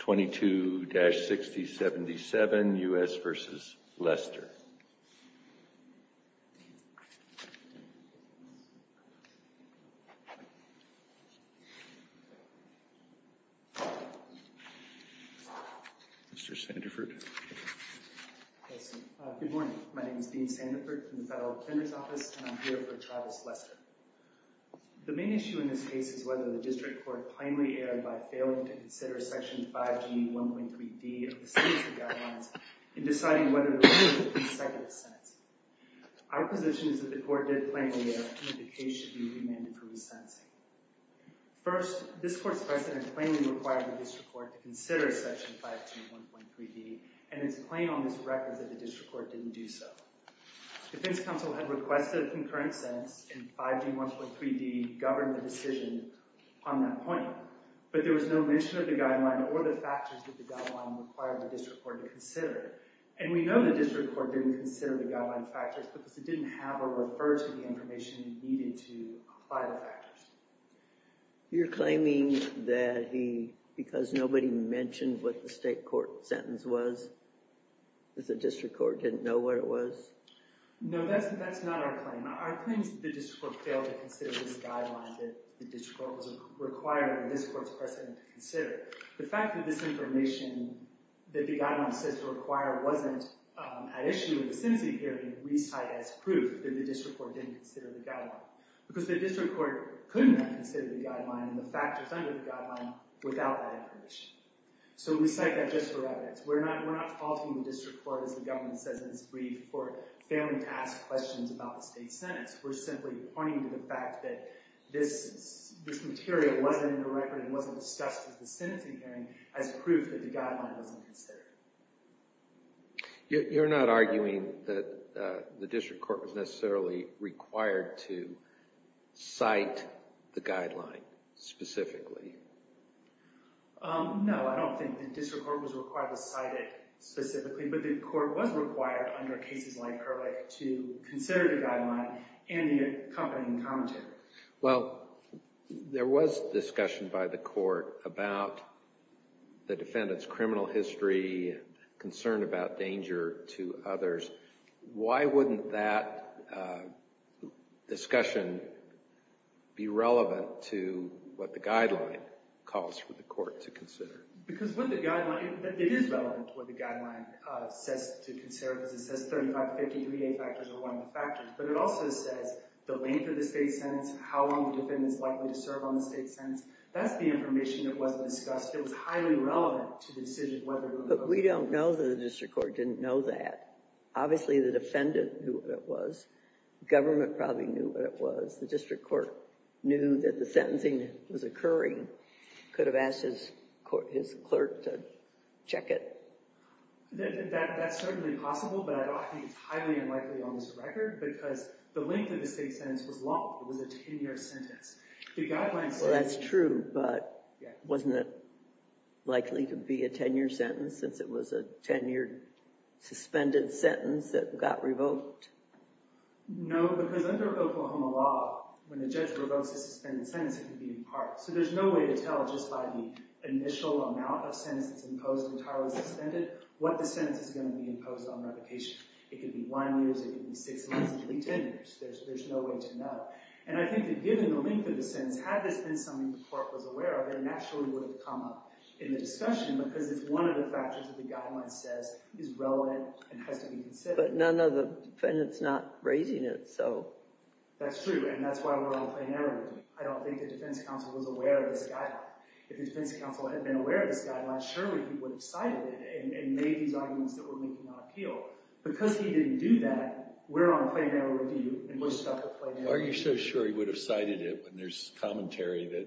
22-6077, U.S. v. Lester Mr. Sandiford Good morning, my name is Dean Sandiford from the Federal Plumbers Office and I'm here for Travis Lester The main issue in this case is whether the District Court plainly erred by failing to consider Section 5G 1.3d of the Sentencing Guidelines in deciding whether to remove consecutive sentences. Our position is that the Court did plainly err and that the case should be remanded for resentencing. First, this Court's precedent plainly required the District Court to consider Section 5G 1.3d and it's plain on this record that the District Court didn't do so. The defense counsel had requested a concurrent sentence and 5G 1.3d governed the decision on that point. But there was no mention of the guideline or the factors that the guideline required the District Court to consider. And we know the District Court didn't consider the guideline factors because it didn't have or refer to the information needed to apply the factors. You're claiming that he, because nobody mentioned what the State Court sentence was, that the District Court didn't know what it was? No, that's not our claim. Our claim is that the District Court failed to consider this guideline that the District Court was requiring the District Court's precedent to consider. The fact that this information that the guideline says to require wasn't an issue in the sentencing hearing we cite as proof that the District Court didn't consider the guideline. Because the District Court couldn't have considered the guideline and the factors under the guideline without that information. So we cite that just for evidence. We're not faulting the District Court, as the government says in its brief, for failing to ask questions about the State's sentence. We're simply pointing to the fact that this material wasn't in the record and wasn't discussed in the sentencing hearing as proof that the guideline wasn't considered. You're not arguing that the District Court was necessarily required to cite the guideline specifically? No, I don't think the District Court was required to cite it specifically. But the Court was required under cases like Herlick to consider the guideline and the accompanying commentary. Well, there was discussion by the Court about the defendant's criminal history and concern about danger to others. Why wouldn't that discussion be relevant to what the guideline calls for the Court to consider? Because with the guideline, it is relevant to what the guideline says to consider. Because it says 3553A factors are one of the factors. But it also says the length of the State's sentence, how long the defendant is likely to serve on the State's sentence. That's the information that wasn't discussed. It was highly relevant to the decision whether it would have occurred. But we don't know that the District Court didn't know that. Obviously, the defendant knew what it was. Government probably knew what it was. The District Court knew that the sentencing was occurring. Could have asked his clerk to check it. That's certainly possible. But I don't think it's highly unlikely on this record. Because the length of the State's sentence was long. It was a 10-year sentence. That's true. But wasn't it likely to be a 10-year sentence since it was a 10-year suspended sentence that got revoked? No, because under Oklahoma law, when a judge revokes a suspended sentence, it can be in part. So there's no way to tell just by the initial amount of sentences imposed entirely suspended what the sentence is going to be imposed on revocation. It could be one year. It could be six months. It could be 10 years. There's no way to know. And I think that given the length of the sentence, had this been something the Court was aware of, it naturally would have come up in the discussion. Because it's one of the factors that the Guidelines says is relevant and has to be considered. But none of the defendants not raising it, so. That's true. And that's why we're all plenary. I don't think the defense counsel was aware of this Guideline. If the defense counsel had been aware of this Guideline, surely he would have cited it and made these arguments that were making an appeal. Because he didn't do that, we're on a plenary review and we're stuck with plenary. Are you so sure he would have cited it when there's commentary that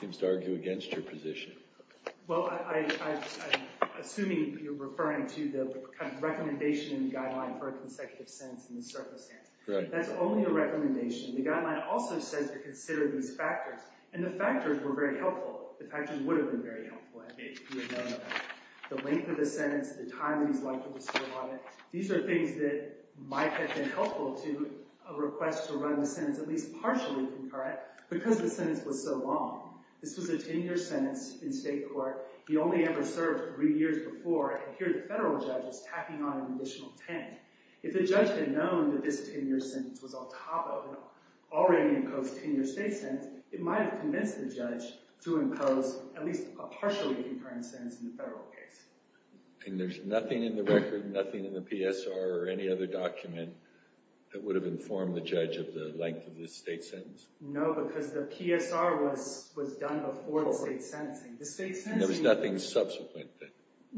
seems to argue against your position? Well, I'm assuming you're referring to the kind of recommendation in the Guideline for a consecutive sentence in this circumstance. That's only a recommendation. The Guideline also says to consider these factors. And the factors were very helpful. The factors would have been very helpful if he had known about it. The length of the sentence, the time that he's likely to serve on it. These are things that might have been helpful to a request to run the sentence at least partially concurrent. Because the sentence was so long. This was a 10-year sentence in state court. He only ever served three years before. And here the federal judge was tacking on an additional 10. If the judge had known that this 10-year sentence was on top of an already imposed 10-year state sentence, it might have convinced the judge to impose at least a partially concurrent sentence in the federal case. And there's nothing in the record, nothing in the PSR or any other document that would have informed the judge of the length of this state sentence? No, because the PSR was done before the state sentencing. There was nothing subsequent then?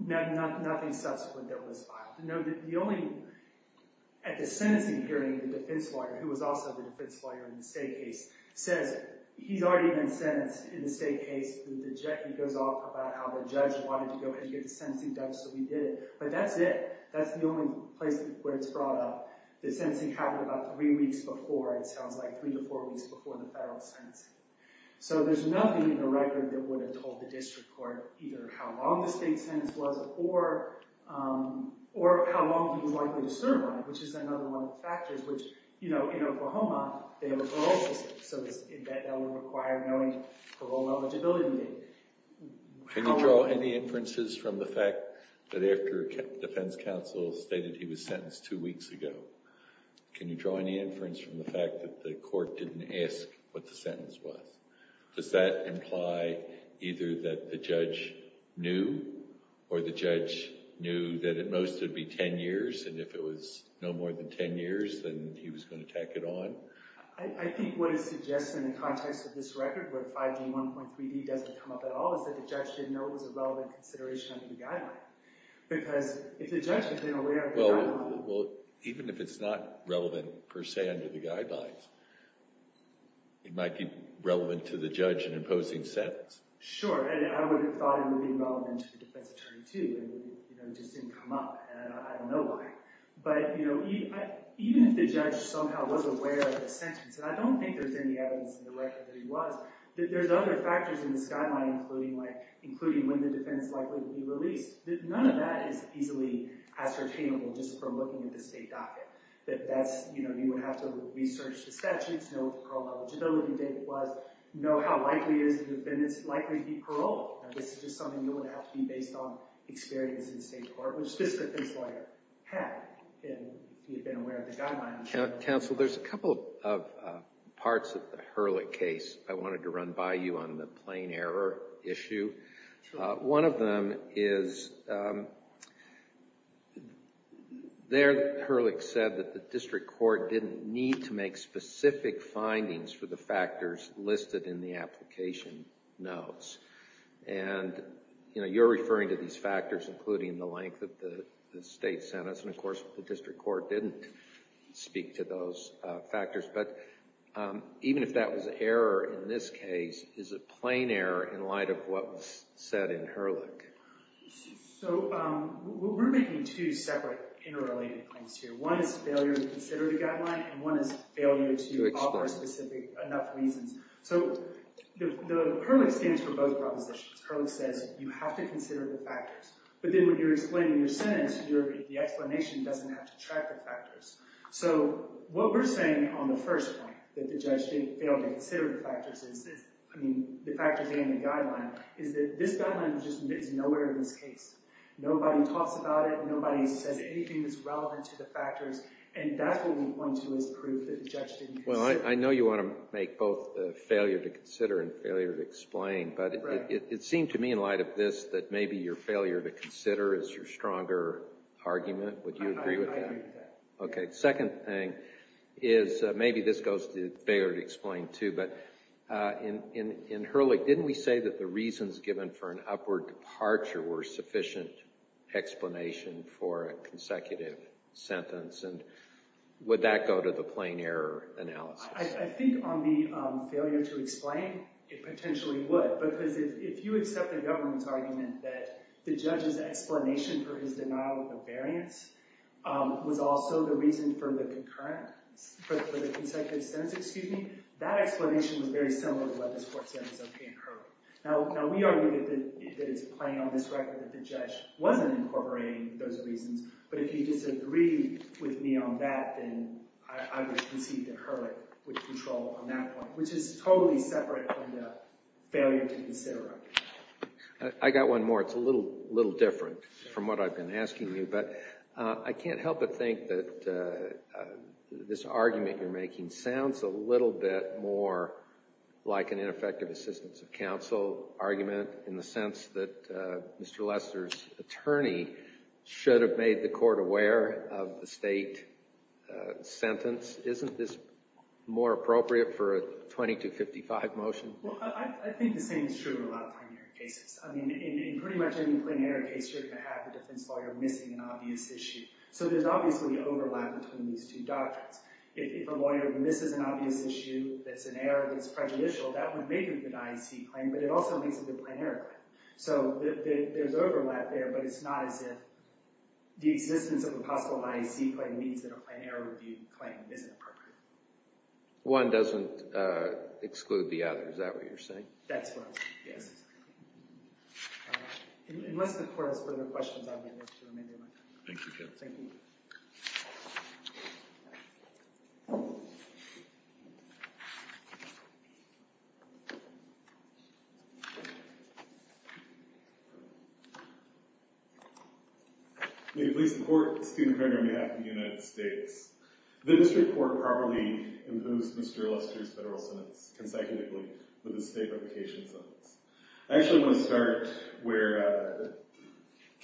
Nothing subsequent that was filed. At the sentencing hearing, the defense lawyer, who was also the defense lawyer in the state case, says he's already been sentenced in the state case. He goes off about how the judge wanted to go ahead and get the sentencing done, so he did it. But that's it. That's the only place where it's brought up. The sentencing happened about three weeks before, it sounds like, three to four weeks before the federal sentencing. So there's nothing in the record that would have told the district court either how long the state sentence was or how long he was likely to survive, which is another one of the factors. Which, you know, in Oklahoma, they have a parole system, so that would require knowing parole eligibility. Can you draw any inferences from the fact that after defense counsel stated he was sentenced two weeks ago, can you draw any inference from the fact that the court didn't ask what the sentence was? Does that imply either that the judge knew, or the judge knew that at most it would be ten years, and if it was no more than ten years, then he was going to tack it on? I think what it suggests in the context of this record, where 5G 1.3b doesn't come up at all, is that the judge didn't know it was a relevant consideration under the guidelines. Because if the judge had been aware of the guidelines... Well, even if it's not relevant per se under the guidelines, it might be relevant to the judge in imposing sentence. Sure, and I would have thought it would be relevant to the defense attorney, too, and it just didn't come up, and I don't know why. But, you know, even if the judge somehow was aware of the sentence, and I don't think there's any evidence in the record that he was, there's other factors in this guideline, including when the defense is likely to be released. None of that is easily ascertainable just from looking at the state docket. You would have to research the statutes, know what the parole eligibility date was, know how likely it is that the defendant is likely to be paroled. This is just something that would have to be based on experience in state court, which this defense lawyer had if he had been aware of the guidelines. Counsel, there's a couple of parts of the Hurlick case I wanted to run by you on the plain error issue. Sure. One of them is there Hurlick said that the district court didn't need to make specific findings for the factors listed in the application notes. And, you know, you're referring to these factors, including the length of the state sentence, and, of course, the district court didn't speak to those factors. But even if that was an error in this case, is it plain error in light of what was said in Hurlick? So we're making two separate interrelated claims here. One is failure to consider the guideline, and one is failure to offer specific enough reasons. So the Hurlick stands for both propositions. Hurlick says you have to consider the factors. But then when you're explaining your sentence, the explanation doesn't have to track the factors. So what we're saying on the first point, that the judge didn't fail to consider the factors, I mean, the factors and the guideline, is that this guideline is nowhere in this case. Nobody talks about it. Nobody says anything that's relevant to the factors. And that's what we point to as proof that the judge didn't consider it. Well, I know you want to make both failure to consider and failure to explain. But it seemed to me in light of this that maybe your failure to consider is your stronger argument. Would you agree with that? Okay. The second thing is maybe this goes to failure to explain, too. But in Hurlick, didn't we say that the reasons given for an upward departure were sufficient explanation for a consecutive sentence? And would that go to the plain error analysis? I think on the failure to explain, it potentially would. Because if you accept the government's argument that the judge's explanation for his denial of the variance was also the reason for the consecutive sentence, that explanation was very similar to what this court said was okay in Hurlick. Now, we argue that it's plain on this record that the judge wasn't incorporating those reasons. But if you disagree with me on that, then I would concede that Hurlick would control on that point, which is totally separate from the failure to consider argument. I've got one more. It's a little different from what I've been asking you. But I can't help but think that this argument you're making sounds a little bit more like an ineffective assistance of counsel argument, in the sense that Mr. Lester's attorney should have made the court aware of the state sentence. Isn't this more appropriate for a 2255 motion? Well, I think the same is true in a lot of primary cases. I mean, in pretty much any plain error case, you're going to have the defense lawyer missing an obvious issue. So there's obviously overlap between these two doctrines. If a lawyer misses an obvious issue that's an error that's prejudicial, that would make a good IEC claim, but it also makes a good plain error claim. So there's overlap there, but it's not as if the existence of a possible IEC claim means that a plain error review claim isn't appropriate. One doesn't exclude the other. Is that what you're saying? That's what I'm saying, yes. Unless the court has further questions, I'll get back to you. Thank you. Thank you. May it please the court. Stephen Kroger on behalf of the United States. The district court properly imposed Mr. Lester's federal sentence consecutively with a state revocation sentence. I actually want to start where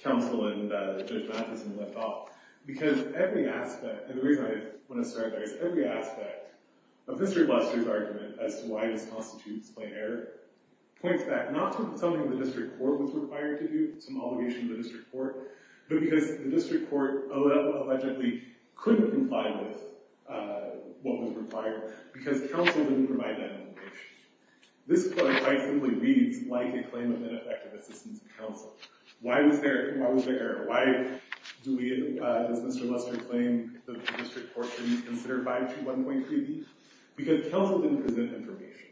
counsel and Judge Matheson left off, because every aspect and the reason I want to start there is every aspect of Mr. Lester's argument as to why this constitutes plain error points back not to something the district court was required to do, some obligation to the district court, but because the district court allegedly couldn't comply with what was required, because counsel didn't provide that information. This quite simply reads like a claim of ineffective assistance to counsel. Why was there error? Why does Mr. Lester claim that the district court didn't consider 521.3b? Because counsel didn't present information.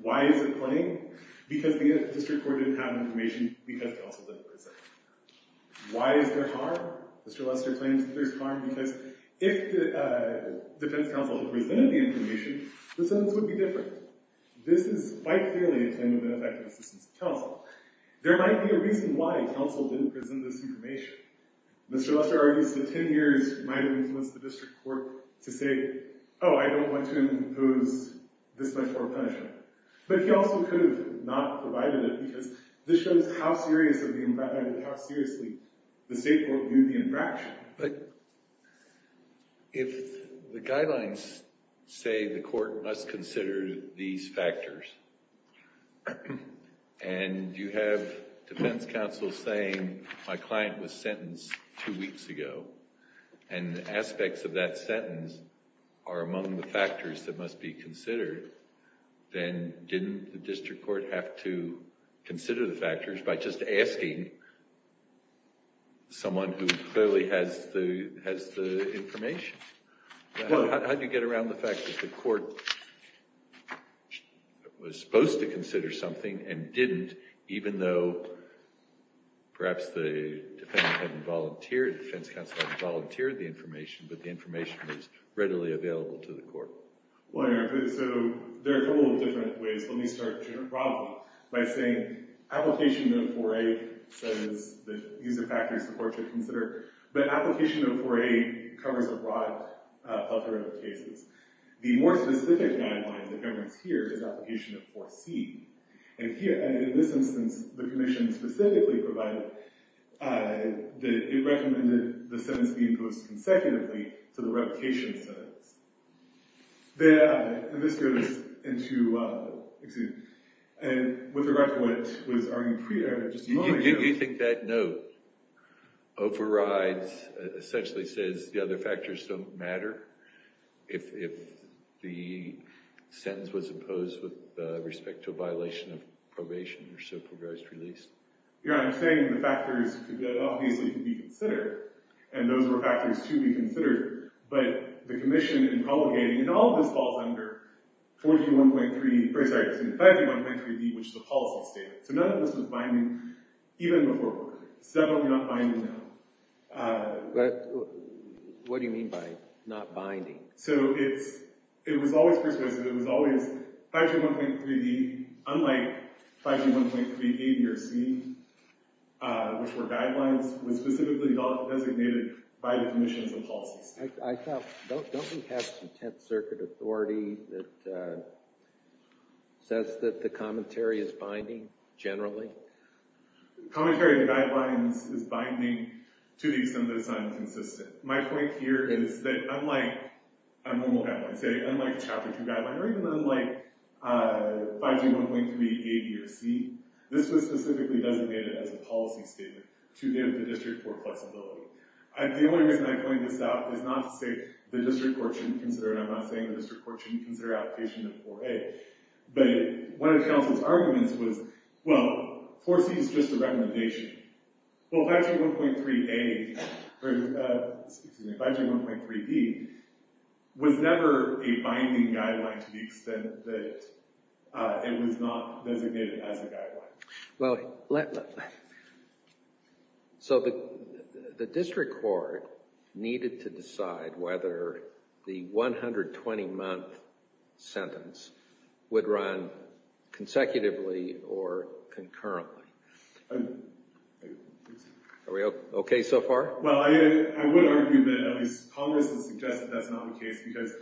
Why is it plain? Because the district court didn't have information because counsel didn't present it. Why is there harm? Mr. Lester claims that there's harm because if the defense counsel had presented the information, the sentence would be different. This is quite clearly a claim of ineffective assistance to counsel. There might be a reason why counsel didn't present this information. Mr. Lester argues that 10 years might have influenced the district court to say, oh, I don't want to impose this much more punishment. But he also could have not provided it because this shows how seriously the state court viewed the infraction. But if the guidelines say the court must consider these factors, and you have defense counsel saying my client was sentenced two weeks ago, and aspects of that sentence are among the factors that must be considered, then didn't the district court have to consider the factors by just asking someone who clearly has the information? How do you get around the fact that the court was supposed to consider something and didn't, even though perhaps the defense counsel hadn't volunteered the information, but the information was readily available to the court? Well, so there are a couple of different ways. Let me start generally by saying application of 4A says that these are factors to consider. But application of 4A covers a broad plethora of cases. The more specific guideline that governs here is application of 4C. And here, in this instance, the commission specifically provided that it recommended the sentence be imposed consecutively to the replication sentence. There, and this goes into, excuse me, and with regard to what was argued previously. You think that note overrides, essentially says the other factors don't matter? If the sentence was imposed with respect to a violation of probation or civil progress release? Your Honor, I'm saying the factors could obviously be considered. And those were factors to be considered. But the commission in obligating, and all of this falls under 41.3B, which is a policy statement. So none of this was binding even before court. It's definitely not binding now. But what do you mean by not binding? So it was always presupposed that it was always 521.3B. Unlike 521.3A or C, which were guidelines, was specifically designated by the commission as a policy statement. Don't we have some Tenth Circuit authority that says that the commentary is binding, generally? Commentary in the guidelines is binding to the extent that it's not inconsistent. My point here is that unlike a normal guideline, say unlike a Chapter 2 guideline, or even unlike 521.3A, B, or C, this was specifically designated as a policy statement to give the district court flexibility. The only reason I point this out is not to say the district court shouldn't consider it. I'm not saying the district court shouldn't consider application of 4A. But one of the counsel's arguments was, well, 4C is just a recommendation. Well, 521.3A, or excuse me, 521.3B, was never a binding guideline to the extent that it was not designated as a guideline. Well, so the district court needed to decide whether the 120-month sentence would run consecutively or concurrently. Are we okay so far? Well, I would argue that at least Congress has suggested that's not the case because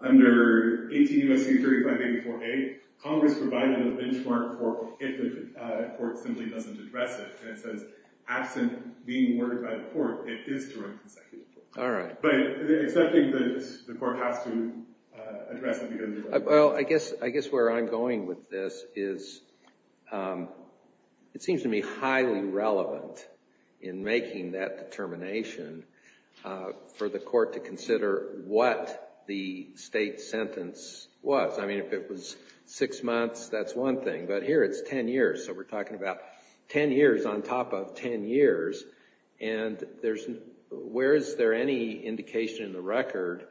under 18 U.S.C. 3584A, Congress provided a benchmark for if the court simply doesn't address it. And it says, absent being worded by the court, it is to run consecutively. All right. But accepting this, the court has to address it. Well, I guess where I'm going with this is it seems to me highly relevant in making that determination for the court to consider what the state sentence was. I mean, if it was six months, that's one thing. But here it's ten years, so we're talking about ten years on top of ten years. And where is there any indication in the record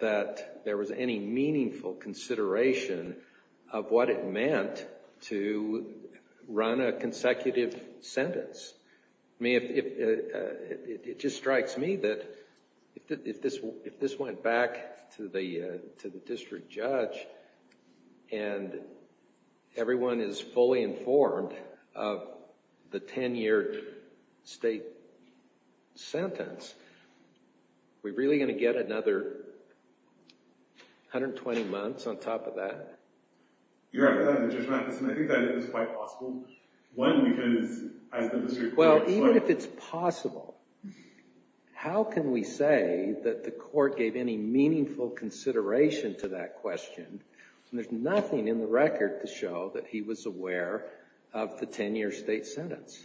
that there was any meaningful consideration of what it meant to run a consecutive sentence? I mean, it just strikes me that if this went back to the district judge and everyone is fully informed of the ten-year state sentence, are we really going to get another 120 months on top of that? Your Honor, Judge Matheson, I think that is quite possible. Well, even if it's possible, how can we say that the court gave any meaningful consideration to that question when there's nothing in the record to show that he was aware of the ten-year state sentence?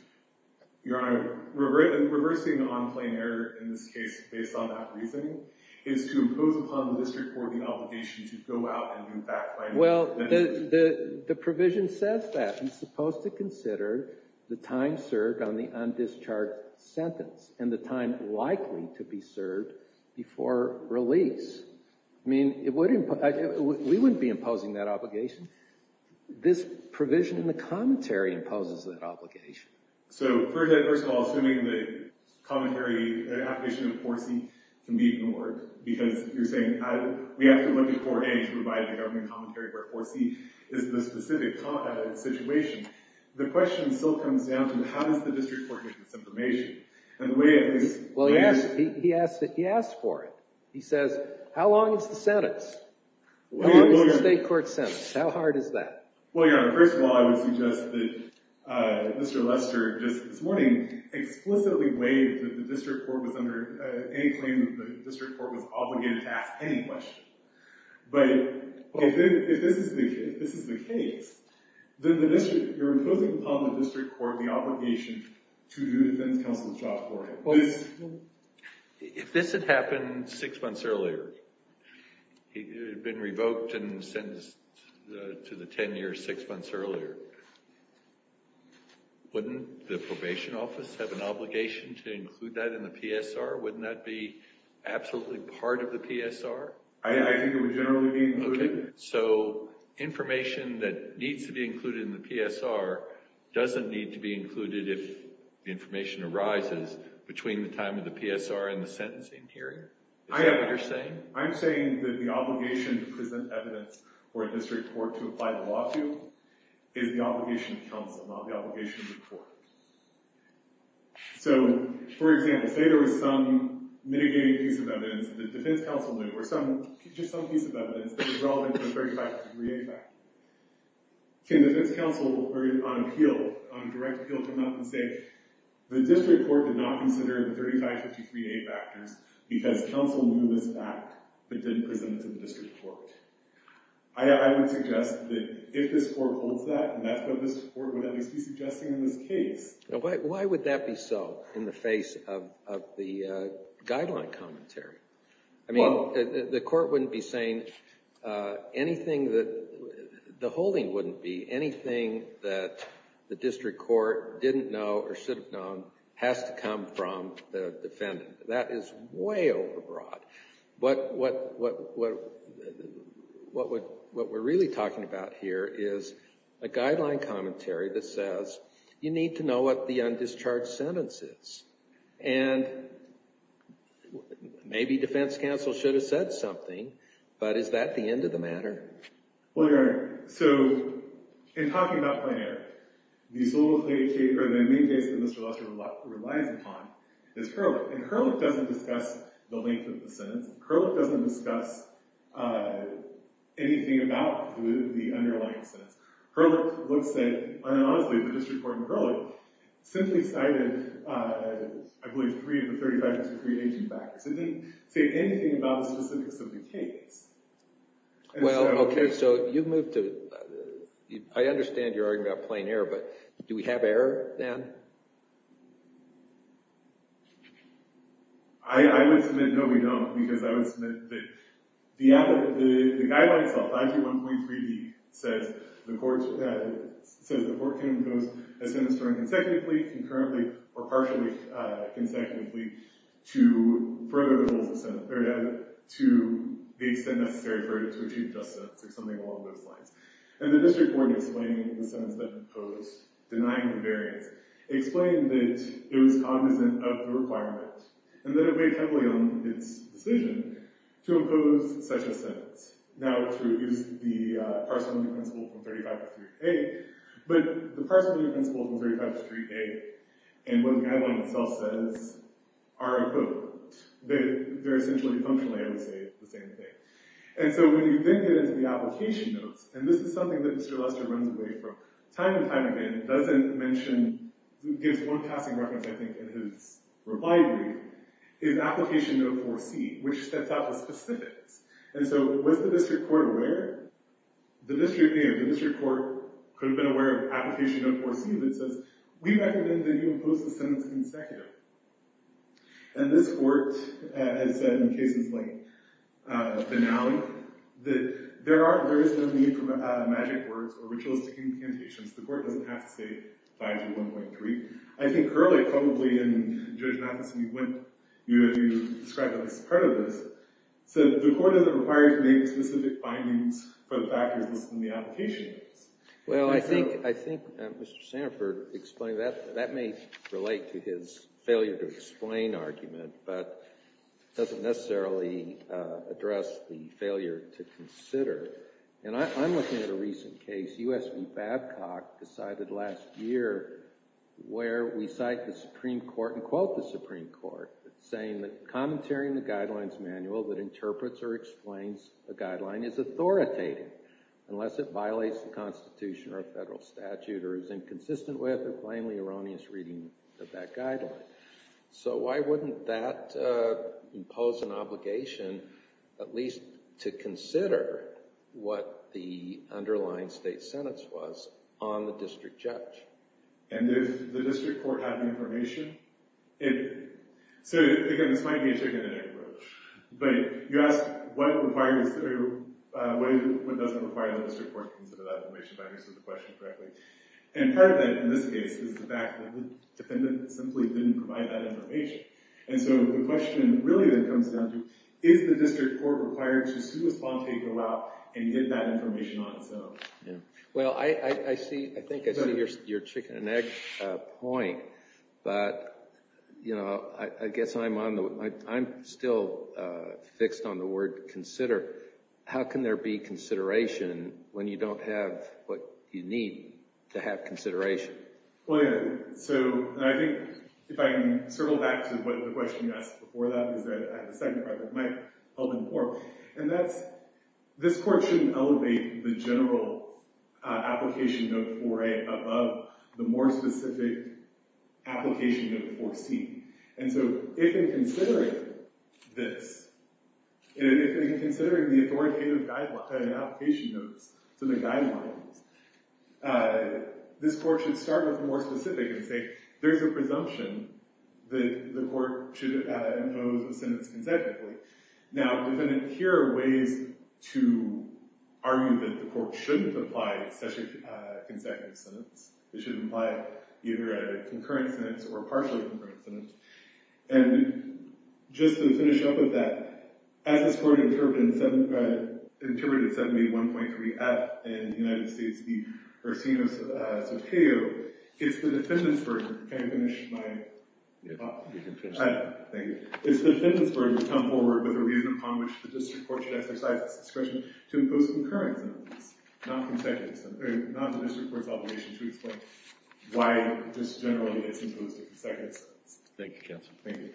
Your Honor, reversing the on-plane error in this case based on that reasoning is to impose upon the district court the obligation to go out and do fact-finding. Well, the provision says that. It's supposed to consider the time served on the on-discharge sentence and the time likely to be served before release. I mean, we wouldn't be imposing that obligation. This provision in the commentary imposes that obligation. So, first of all, assuming the commentary application of 4C can be ignored because you're saying we have to look at 4A to provide the government commentary where 4C is the specific situation, the question still comes down to how does the district court get this information? Well, he asked for it. He says, how long is the sentence? How long is the state court sentence? How hard is that? Well, Your Honor, first of all, I would suggest that Mr. Lester just this morning explicitly waived that the district court was under any claim that the district court was obligated to ask any question. But if this is the case, then you're imposing upon the district court the obligation to do defense counsel's job for him. If this had happened six months earlier, he had been revoked and sentenced to the 10-year six months earlier, wouldn't the probation office have an obligation to include that in the PSR? Wouldn't that be absolutely part of the PSR? I think it would generally be included. So, information that needs to be included in the PSR doesn't need to be included if information arises between the time of the PSR and the sentencing hearing? Is that what you're saying? I'm saying that the obligation to present evidence for a district court to apply the law to is the obligation of counsel, not the obligation of the court. So, for example, say there was some mitigating piece of evidence that the defense counsel knew, or just some piece of evidence that was relevant to the 3553A factor. Can defense counsel on appeal, on direct appeal, come up and say, the district court did not consider the 3553A factors because counsel knew this fact but didn't present it to the district court? I would suggest that if this court holds that, that's what this court would at least be suggesting in this case. Why would that be so in the face of the guideline commentary? I mean, the court wouldn't be saying anything that the holding wouldn't be. Anything that the district court didn't know or should have known has to come from the defendant. That is way over broad. What we're really talking about here is a guideline commentary that says, you need to know what the undischarged sentence is. And maybe defense counsel should have said something, but is that the end of the matter? Well, Your Honor, so in talking about plenary, the sole plaintiff case or the main case that Mr. Lester relies upon is Hurlip. And Hurlip doesn't discuss the length of the sentence. Hurlip doesn't discuss anything about the underlying sentence. Hurlip looks at, honestly, the district court in Hurlip simply cited, I believe, three of the 3553A factors. It didn't say anything about the specifics of the case. Well, okay, so you've moved to – I understand you're arguing about plain error, but do we have error then? I would submit no, we don't, because I would submit that the guideline itself, 531.3d, says the court can impose a sentence term consecutively, concurrently, or partially consecutively, to further the rules of sentence, to the extent necessary for it to achieve justice, or something along those lines. And the district court explaining the sentence that it imposed, denying the variance, explaining that it was cognizant of the requirement, and that it weighed heavily on its decision to impose such a sentence. Now, to use the parsimony principle from 3553A, but the parsimony principle from 3553A, and what the guideline itself says, are equivalent. They're essentially functionally the same thing. And so when you then get into the application notes, and this is something that Mr. Lester runs away from time and time again, and doesn't mention, gives one passing reference, I think, in his reply brief, is application note 4C, which sets out the specifics. And so was the district court aware? The district court could have been aware of application note 4C, that says, we recommend that you impose the sentence consecutively. And this court has said, in cases like Benally, that there is no need for magic words or ritualistic incantations. The court doesn't have to say 521.3. I think earlier, probably, in Judge Nathanson, you described it as part of this, said, the court doesn't require you to make specific findings for the factors listed in the application notes. Well, I think Mr. Sanford explained that. That may relate to his failure to explain argument, but doesn't necessarily address the failure to consider. And I'm looking at a recent case, U.S. v. Babcock decided last year, where we cite the Supreme Court, and quote the Supreme Court, saying that commentary in the guidelines manual that interprets or explains a guideline is authoritative, unless it violates the Constitution or a federal statute, or is inconsistent with or plainly erroneous reading of that guideline. So why wouldn't that impose an obligation, at least to consider what the underlying state sentence was, on the district judge? And if the district court had the information? So, again, this might be a trigonometric approach, but you ask what does it require that the district court consider that information, if I understood the question correctly. And part of that, in this case, is the fact that the defendant simply didn't provide that information. And so the question really that comes down to, is the district court required to sui sponte go out and get that information on its own? Well, I think I see your chicken and egg point, but I guess I'm still fixed on the word consider. How can there be consideration when you don't have what you need to have consideration? Well, anyway, so I think if I can circle back to the question you asked before that, because I have a second part that might help inform, and that's this court shouldn't elevate the general application note 4A above the more specific application note 4C. And so if in considering this, if in considering the authoritative application notes and the guidelines, this court should start with more specific and say there's a presumption that the court should impose a sentence consecutively. Now, defendant, here are ways to argue that the court shouldn't apply a consecutive sentence. It should imply either a concurrent sentence or a partially concurrent sentence. And just to finish up with that, as this court interpreted 7A.1.3F in the United States v. Ursino-Soteo, it's the defendant's version. Can I finish my thought? You can finish. Thank you. It's the defendant's version to come forward with a reason upon which the district court should exercise its discretion to impose a concurrent sentence, not a district court's obligation to explain why this generally is imposed a consecutive sentence. Thank you, counsel. Thank you.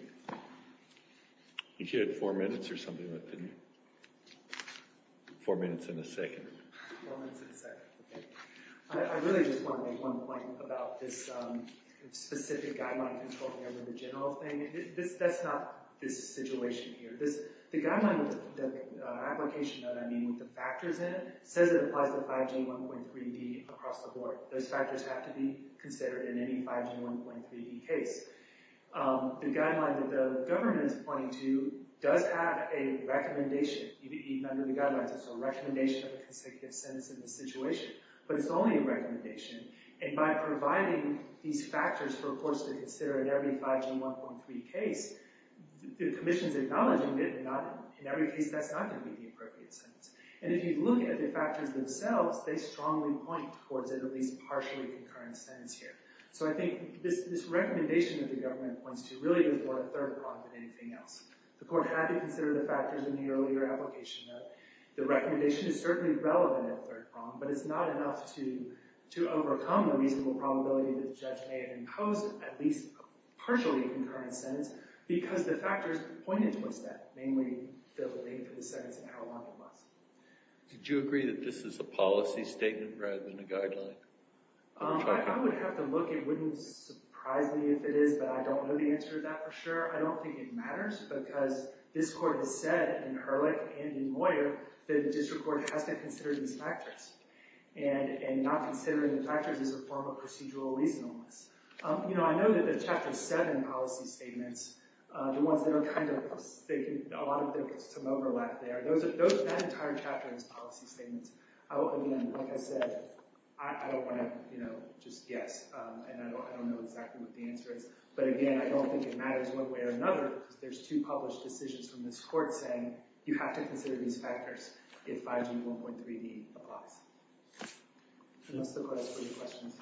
You had four minutes or something, didn't you? Four minutes and a second. Four minutes and a second. OK. I really just want to make one point about this specific guideline controlling over the general thing. That's not this situation here. The application that I mean with the factors in it says it applies to 5G 1.3B across the board. Those factors have to be considered in any 5G 1.3B case. The guideline that the government is pointing to does have a recommendation even under the guidelines. It's a recommendation of a consecutive sentence in this situation. But it's only a recommendation. And by providing these factors for courts to consider in every 5G 1.3 case, the commission's acknowledging that in every case that's not going to be the appropriate sentence. And if you look at the factors themselves, they strongly point towards at least a partially concurrent sentence here. So I think this recommendation that the government points to really does more to third prong than anything else. The court had to consider the factors in the earlier application, though. The recommendation is certainly relevant in third prong, but it's not enough to overcome the reasonable probability that the judge may have imposed at least a partially concurrent sentence because the factors pointed towards that, namely, the delay for the sentence and how long it lasts. Did you agree that this is a policy statement rather than a guideline? I would have to look. It wouldn't surprise me if it is, but I don't know the answer to that for sure. I don't think it matters because this court has said in Ehrlich and in Moyer that a district court has to consider these factors. And not considering the factors is a form of procedural reasonableness. I know that the Chapter 7 policy statements, the ones that are kind of sticking, a lot of them have some overlap there. That entire chapter is policy statements. Again, like I said, I don't want to just guess. And I don't know exactly what the answer is. But again, I don't think it matters one way or another because there's two published decisions from this court saying you have to consider these factors if 5G 1.3D applies. And that's the question.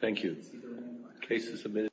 Thank you. Case is submitted.